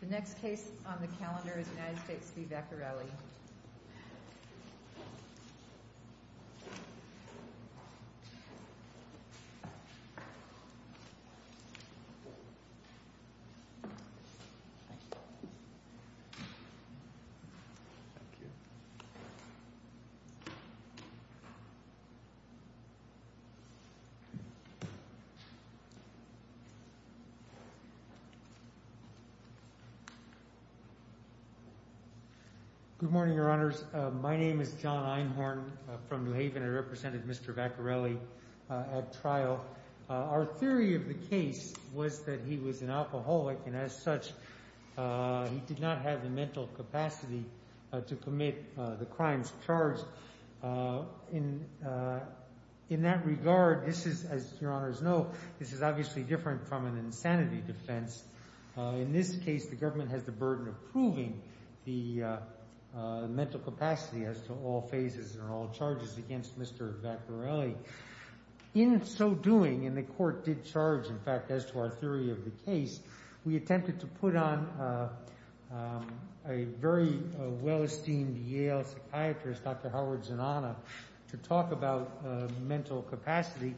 The next case on the calendar is United States v. Vaccarelli. Good morning, Your Honors. My name is John Einhorn from New Haven. I represented Mr. Vaccarelli at trial. Our theory of the case was that he was an alcoholic, and as such, he did not have the mental capacity to commit the crimes charged. In that regard, this is, as Your Honors know, this is obviously different from an insanity defense. In this case, the government has the burden of proving the mental capacity as to all phases and all charges against Mr. Vaccarelli. In so doing, and the court did charge, in fact, as to our theory of the case, we attempted to put on a very well-esteemed Yale psychiatrist, Dr. Howard Zinana, to talk about mental capacity.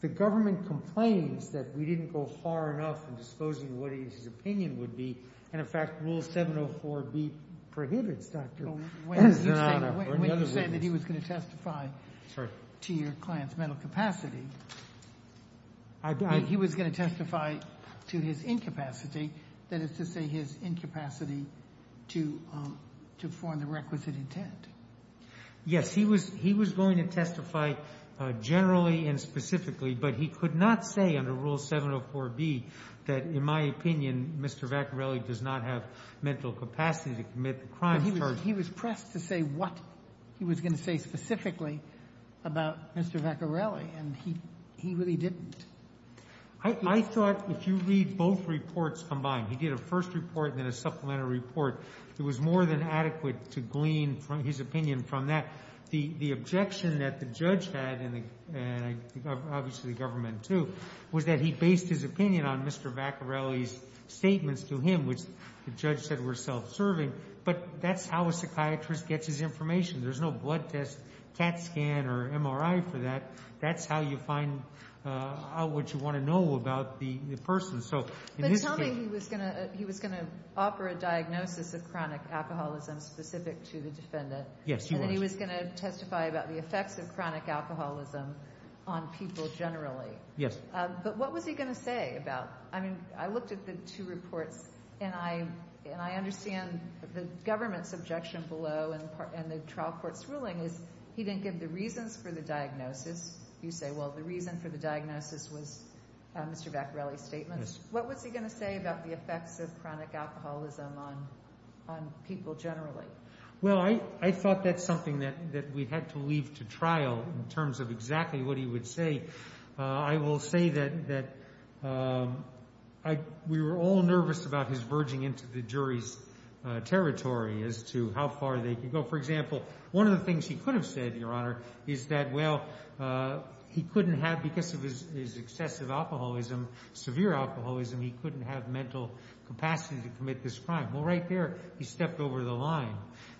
The government complains that we didn't go far enough in disposing of what his opinion would be, and, in fact, Rule 704B prohibits Dr. Zinana or any other witness. When you say that he was going to testify to your client's mental capacity, he was going to testify to his incapacity, that is to say his incapacity to form the requisite intent. Yes. He was going to testify generally and specifically, but he could not say under Rule 704B that, in my opinion, Mr. Vaccarelli does not have mental capacity to commit the crimes charged. But he was pressed to say what he was going to say specifically about Mr. Vaccarelli, and he really didn't. I thought if you read both reports combined, he did a first report and then a supplementary report, it was more than adequate to glean his opinion from that. The objection that the judge had, and obviously the government too, was that he based his opinion on Mr. Vaccarelli's statements to him, which the judge said were self-serving, but that's how a psychiatrist gets his information. There's no blood test, CAT scan, or MRI for that. That's how you find out what you want to know about the person. But tell me he was going to offer a diagnosis of chronic alcoholism specific to the defendant. Yes, he was. And then he was going to testify about the effects of chronic alcoholism on people generally. Yes. But what was he going to say about it? I looked at the two reports, and I understand the government's objection below and the trial court's ruling is he didn't give the reasons for the diagnosis. You say, well, the reason for the diagnosis was Mr. Vaccarelli's statements. Yes. What was he going to say about the effects of chronic alcoholism on people generally? Well, I thought that's something that we had to leave to trial in terms of exactly what he would say. I will say that we were all nervous about his verging into the jury's territory as to how far they could go. For example, one of the things he could have said, Your Honor, is that, well, he couldn't have, because of his excessive alcoholism, severe alcoholism, he couldn't have mental capacity to commit this crime. Well, right there he stepped over the line.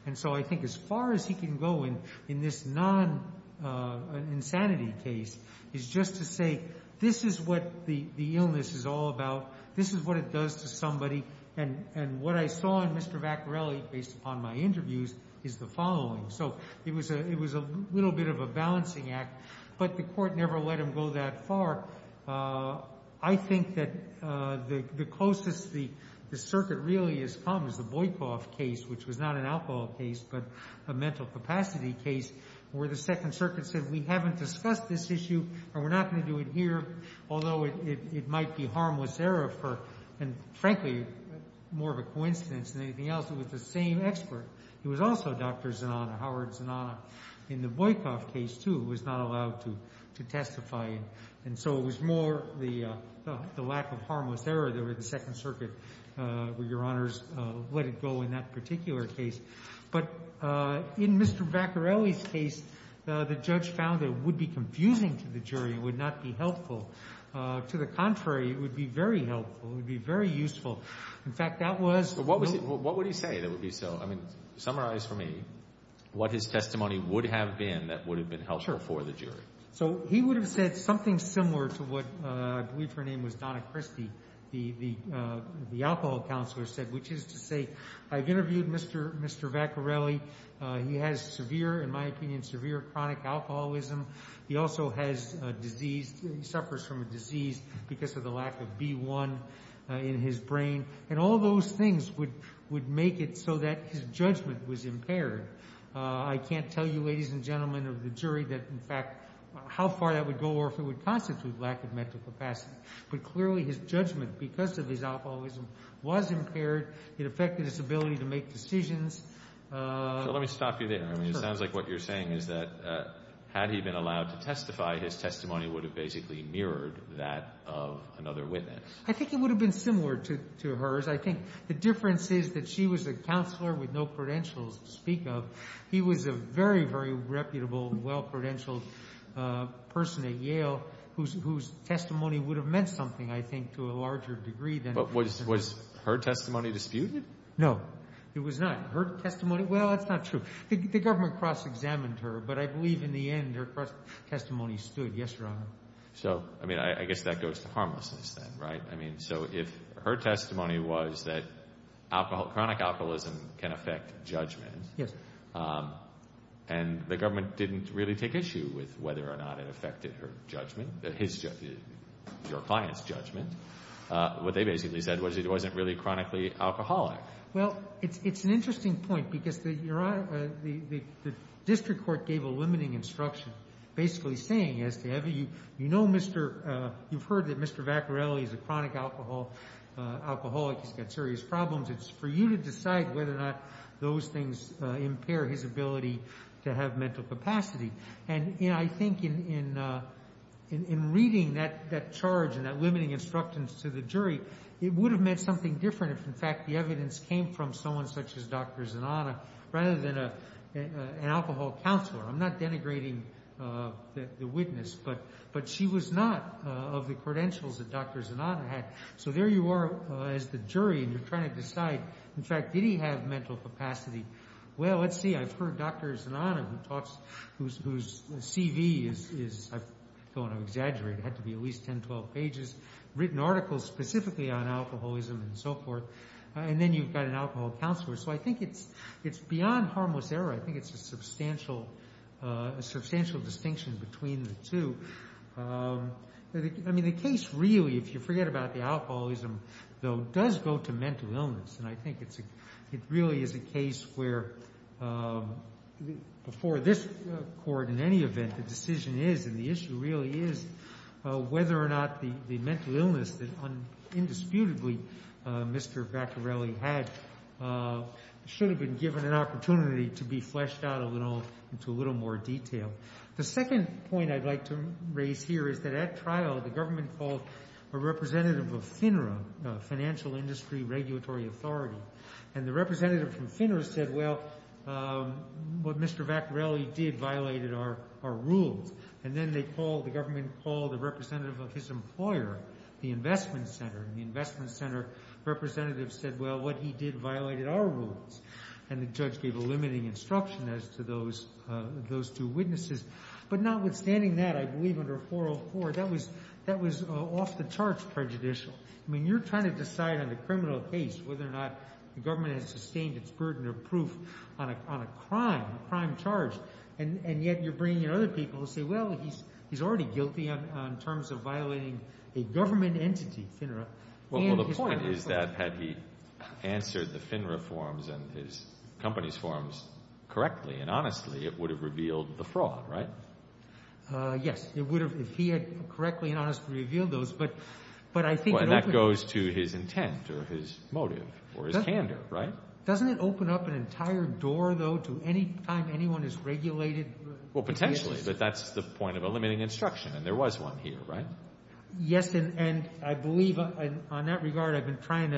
And so I think as far as he can go in this non-insanity case is just to say this is what the illness is all about. This is what it does to somebody. And what I saw in Mr. Vaccarelli, based upon my interviews, is the following. So it was a little bit of a balancing act, but the court never let him go that far. I think that the closest the circuit really has come is the Boykoff case, which was not an alcohol case but a mental capacity case, where the Second Circuit said we haven't discussed this issue and we're not going to do it here, although it might be harmless error for, and frankly, more of a coincidence than anything else, it was the same expert. It was also Dr. Zanana, Howard Zanana, in the Boykoff case, too, who was not allowed to testify. And so it was more the lack of harmless error that the Second Circuit, Your Honors, let it go in that particular case. But in Mr. Vaccarelli's case, the judge found it would be confusing to the jury. It would not be helpful. To the contrary, it would be very helpful. It would be very useful. In fact, that was— But what would he say that would be so—I mean, summarize for me what his testimony would have been that would have been helpful for the jury. So he would have said something similar to what I believe her name was Donna Christie, the alcohol counselor, said, which is to say, I've interviewed Mr. Vaccarelli. He has severe, in my opinion, severe chronic alcoholism. He also has a disease. He suffers from a disease because of the lack of B1 in his brain. And all those things would make it so that his judgment was impaired. I can't tell you, ladies and gentlemen of the jury, that, in fact, how far that would go or if it would constitute lack of medical capacity. But clearly his judgment, because of his alcoholism, was impaired. It affected his ability to make decisions. So let me stop you there. I mean, it sounds like what you're saying is that had he been allowed to testify, his testimony would have basically mirrored that of another witness. I think it would have been similar to hers. I think the difference is that she was a counselor with no credentials to speak of. He was a very, very reputable and well-credentialed person at Yale whose testimony would have meant something, I think, to a larger degree. But was her testimony disputed? No, it was not. Her testimony, well, that's not true. The government cross-examined her, but I believe in the end her cross-testimony stood. Yes, Your Honor. So, I mean, I guess that goes to harmlessness then, right? I mean, so if her testimony was that chronic alcoholism can affect judgment. Yes. And the government didn't really take issue with whether or not it affected her judgment, your client's judgment. What they basically said was it wasn't really chronically alcoholic. Well, it's an interesting point because the district court gave a limiting instruction basically saying, you know, you've heard that Mr. Vaccarelli is a chronic alcoholic. He's got serious problems. It's for you to decide whether or not those things impair his ability to have mental capacity. And, you know, I think in reading that charge and that limiting instruction to the jury, it would have meant something different if, in fact, the evidence came from someone such as Dr. Zanata rather than an alcohol counselor. I'm not denigrating the witness, but she was not of the credentials that Dr. Zanata had. So there you are as the jury, and you're trying to decide, in fact, did he have mental capacity? Well, let's see. I've heard Dr. Zanata, whose CV is – I don't want to exaggerate. It had to be at least 10, 12 pages, written articles specifically on alcoholism and so forth. And then you've got an alcohol counselor. So I think it's beyond harmless error. I think it's a substantial distinction between the two. I mean, the case really, if you forget about the alcoholism, though, does go to mental illness, and I think it really is a case where before this court, in any event, the decision is and the issue really is whether or not the mental illness that indisputably Mr. Vaccarelli had should have been given an opportunity to be fleshed out into a little more detail. The second point I'd like to raise here is that at trial, the government called a representative of FINRA, Financial Industry Regulatory Authority, and the representative from FINRA said, Well, what Mr. Vaccarelli did violated our rules. And then the government called a representative of his employer, the Investment Center, and the Investment Center representative said, Well, what he did violated our rules. And the judge gave a limiting instruction as to those two witnesses. But notwithstanding that, I believe under 404, that was off-the-charts prejudicial. I mean, you're trying to decide on a criminal case whether or not the government has sustained its burden of proof on a crime, a crime charge, and yet you're bringing in other people to say, Well, he's already guilty in terms of violating a government entity, FINRA. Well, the point is that had he answered the FINRA forms and his company's forms correctly and honestly, it would have revealed the fraud, right? Yes, it would have if he had correctly and honestly revealed those. But I think it opened – Well, and that goes to his intent or his motive or his candor, right? Doesn't it open up an entire door, though, to any time anyone has regulated – Well, potentially, but that's the point of a limiting instruction, and there was one here, right? Yes, and I believe on that regard I've been trying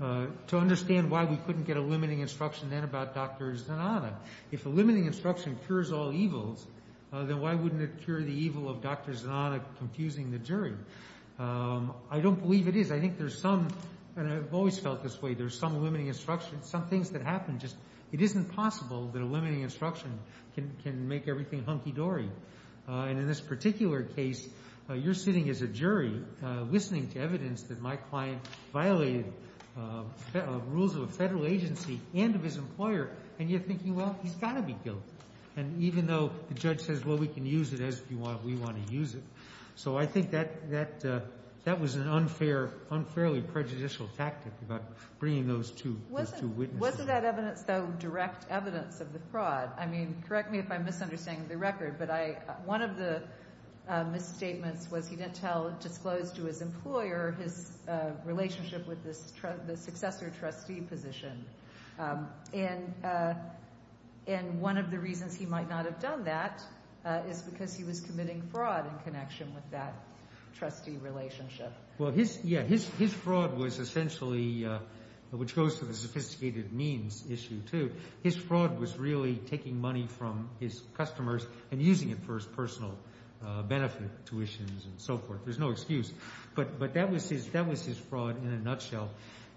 to understand why we couldn't get a limiting instruction then about Dr. Zanana. If a limiting instruction cures all evils, then why wouldn't it cure the evil of Dr. Zanana confusing the jury? I don't believe it is. I think there's some – and I've always felt this way – there's some limiting instruction, some things that happen. It isn't possible that a limiting instruction can make everything hunky-dory. And in this particular case, you're sitting as a jury listening to evidence that my client violated rules of a Federal agency and of his employer, and you're thinking, well, he's got to be guilty, and even though the judge says, well, we can use it as we want to use it. So I think that was an unfairly prejudicial tactic about bringing those two witnesses. Wasn't that evidence, though, direct evidence of the fraud? I mean, correct me if I'm misunderstanding the record, but one of the misstatements was he didn't tell – disclose to his employer his relationship with the successor trustee position. And one of the reasons he might not have done that is because he was committing fraud in connection with that trustee relationship. Well, his – yeah, his fraud was essentially – which goes to the sophisticated means issue, too. His fraud was really taking money from his customers and using it for his personal benefit, tuitions and so forth. There's no excuse. But that was his fraud in a nutshell.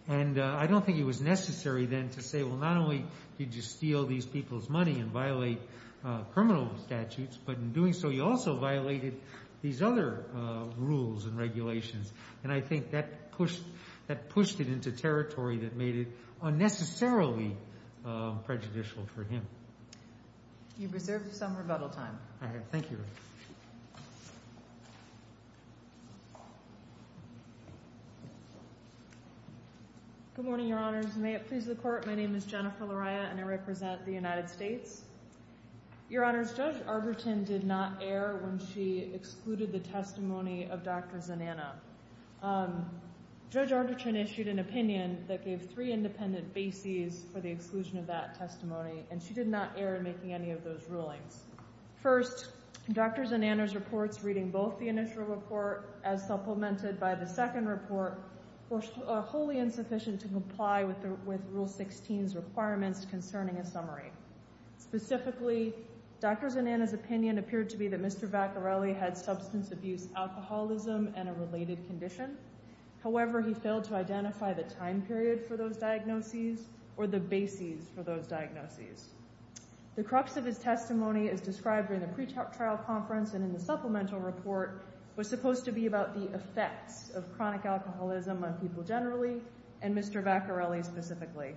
And I don't think it was necessary then to say, well, not only did you steal these people's money and violate criminal statutes, but in doing so you also violated these other rules and regulations. And I think that pushed – that pushed it into territory that made it unnecessarily prejudicial for him. You've reserved some rebuttal time. All right. Thank you. Good morning, Your Honors. May it please the Court, my name is Jennifer Lariah and I represent the United States. Your Honors, Judge Arderton did not err when she excluded the testimony of Dr. Zananna. Judge Arderton issued an opinion that gave three independent bases for the exclusion of that testimony, and she did not err in making any of those rulings. First, Dr. Zananna's reports, reading both the initial report as supplemented by the second report, were wholly insufficient to comply with Rule 16's requirements concerning a summary. Specifically, Dr. Zananna's opinion appeared to be that Mr. Vaccarelli had substance abuse, alcoholism, and a related condition. However, he failed to identify the time period for those diagnoses or the bases for those diagnoses. The crux of his testimony, as described during the pretrial conference and in the supplemental report, was supposed to be about the effects of chronic alcoholism on people generally, and Mr. Vaccarelli specifically.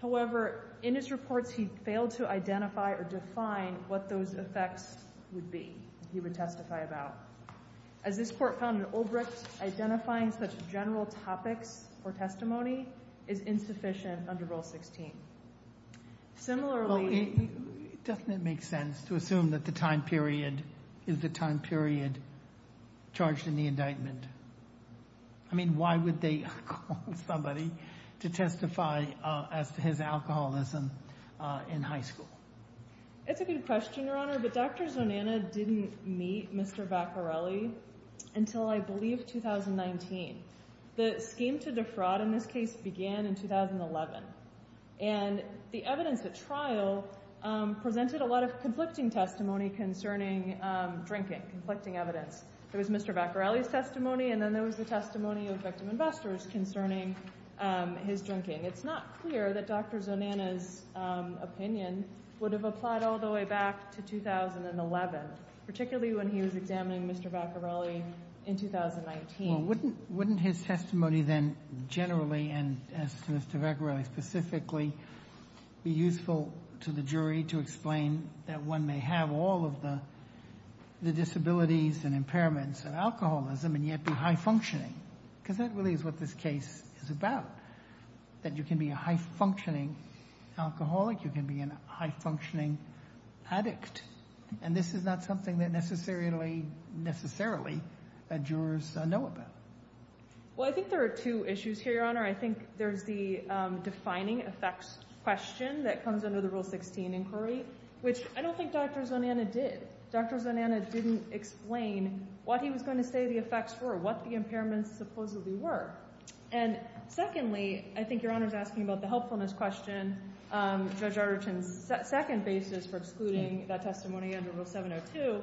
However, in his reports, he failed to identify or define what those effects would be that he would testify about. As this Court found in Olbrecht, identifying such general topics for testimony is insufficient under Rule 16. Similarly— Well, doesn't it make sense to assume that the time period is the time period charged in the indictment? I mean, why would they call somebody to testify as to his alcoholism in high school? It's a good question, Your Honor, but Dr. Zananna didn't meet Mr. Vaccarelli until I believe 2019. The scheme to defraud in this case began in 2011. And the evidence at trial presented a lot of conflicting testimony concerning drinking, conflicting evidence. There was Mr. Vaccarelli's testimony, and then there was the testimony of victim investors concerning his drinking. It's not clear that Dr. Zananna's opinion would have applied all the way back to 2011, particularly when he was examining Mr. Vaccarelli in 2019. Well, wouldn't his testimony then generally, and as to Mr. Vaccarelli specifically, be useful to the jury to explain that one may have all of the disabilities and impairments of alcoholism and yet be high-functioning? Because that really is what this case is about, that you can be a high-functioning alcoholic, you can be a high-functioning addict. And this is not something that necessarily, necessarily, jurors know about. Your Honor, I think there's the defining effects question that comes under the Rule 16 inquiry, which I don't think Dr. Zananna did. Dr. Zananna didn't explain what he was going to say the effects were, what the impairments supposedly were. And secondly, I think Your Honor is asking about the helpfulness question, Judge Arderton's second basis for excluding that testimony under Rule 702.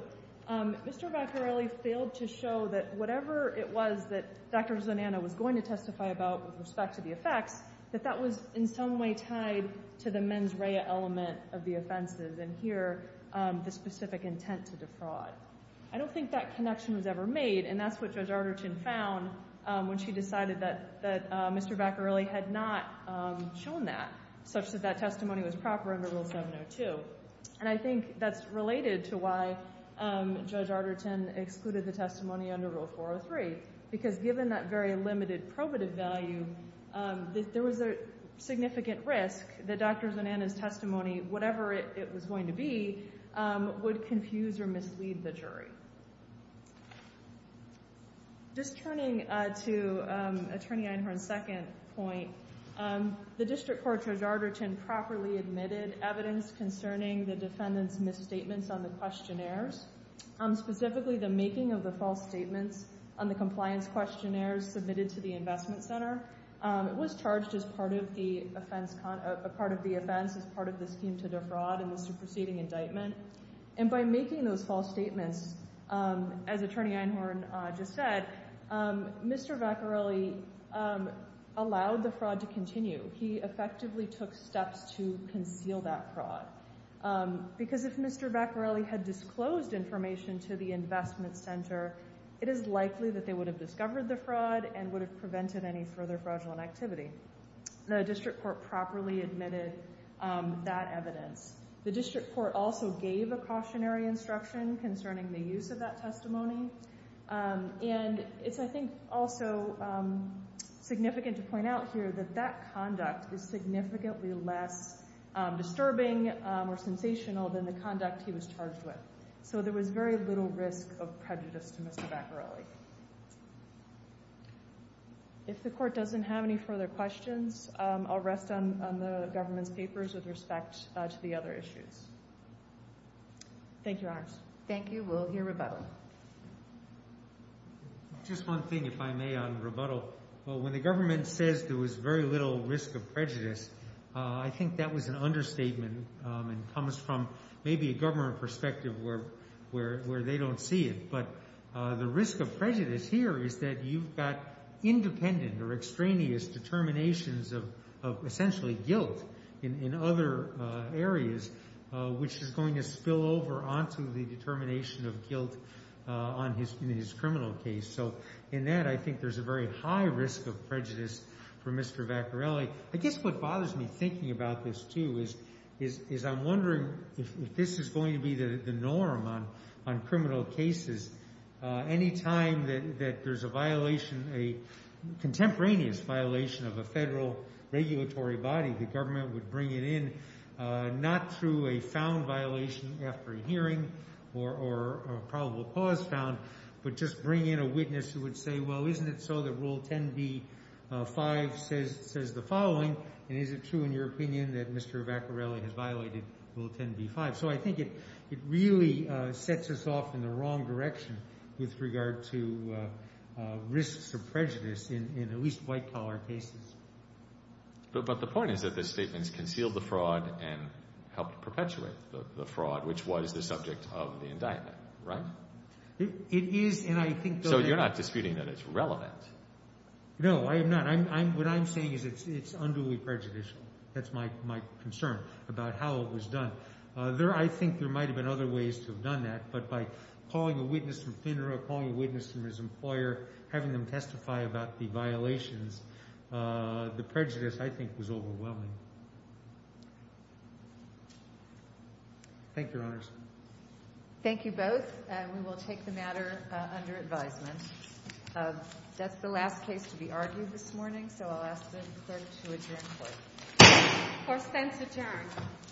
Mr. Vaccarelli failed to show that whatever it was that Dr. Zananna was going to testify about with respect to the effects, that that was in some way tied to the mens rea element of the offenses, and here the specific intent to defraud. I don't think that connection was ever made, and that's what Judge Arderton found when she decided that Mr. Vaccarelli had not shown that, such that that testimony was proper under Rule 702. And I think that's related to why Judge Arderton excluded the testimony under Rule 403, because given that very limited probative value, there was a significant risk that Dr. Zananna's testimony, whatever it was going to be, would confuse or mislead the jury. Just turning to Attorney Einhorn's second point, the District Court Judge Arderton properly admitted evidence concerning the defendant's misstatements on the questionnaires, specifically the making of the false statements on the compliance questionnaires submitted to the Investment Center. It was charged as part of the offense, as part of the scheme to defraud in this preceding indictment. And by making those false statements, as Attorney Einhorn just said, Mr. Vaccarelli allowed the fraud to continue. He effectively took steps to conceal that fraud, because if Mr. Vaccarelli had disclosed information to the Investment Center, it is likely that they would have discovered the fraud and would have prevented any further fraudulent activity. The District Court properly admitted that evidence. The District Court also gave a cautionary instruction concerning the use of that testimony, and it's, I think, also significant to point out here that that conduct is significantly less disturbing or sensational than the conduct he was charged with. So there was very little risk of prejudice to Mr. Vaccarelli. If the Court doesn't have any further questions, I'll rest on the government's papers with respect to the other issues. Thank you, Your Honors. Thank you. We'll hear rebuttal. Just one thing, if I may, on rebuttal. When the government says there was very little risk of prejudice, I think that was an understatement and comes from maybe a government perspective where they don't see it. But the risk of prejudice here is that you've got independent or extraneous determinations of essentially guilt in other areas, which is going to spill over onto the determination of guilt in his criminal case. So in that, I think there's a very high risk of prejudice for Mr. Vaccarelli. I guess what bothers me thinking about this, too, is I'm wondering if this is going to be the norm on criminal cases. Any time that there's a violation, a contemporaneous violation of a federal regulatory body, the government would bring it in, not through a found violation after a hearing or probable cause found, but just bring in a witness who would say, well, isn't it so that Rule 10b-5 says the following? And is it true, in your opinion, that Mr. Vaccarelli has violated Rule 10b-5? So I think it really sets us off in the wrong direction with regard to risks of prejudice in at least white-collar cases. But the point is that the statements concealed the fraud and helped perpetuate the fraud, which was the subject of the indictment, right? It is, and I think that— So you're not disputing that it's relevant? No, I am not. What I'm saying is it's unduly prejudicial. That's my concern about how it was done. I think there might have been other ways to have done that, but by calling a witness from FINRA, calling a witness from his employer, having them testify about the violations, the prejudice, I think, was overwhelming. Thank you, Your Honors. Thank you both. We will take the matter under advisement. That's the last case to be argued this morning, so I'll ask the clerk to adjourn the court. Court stands adjourned. Thank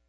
you.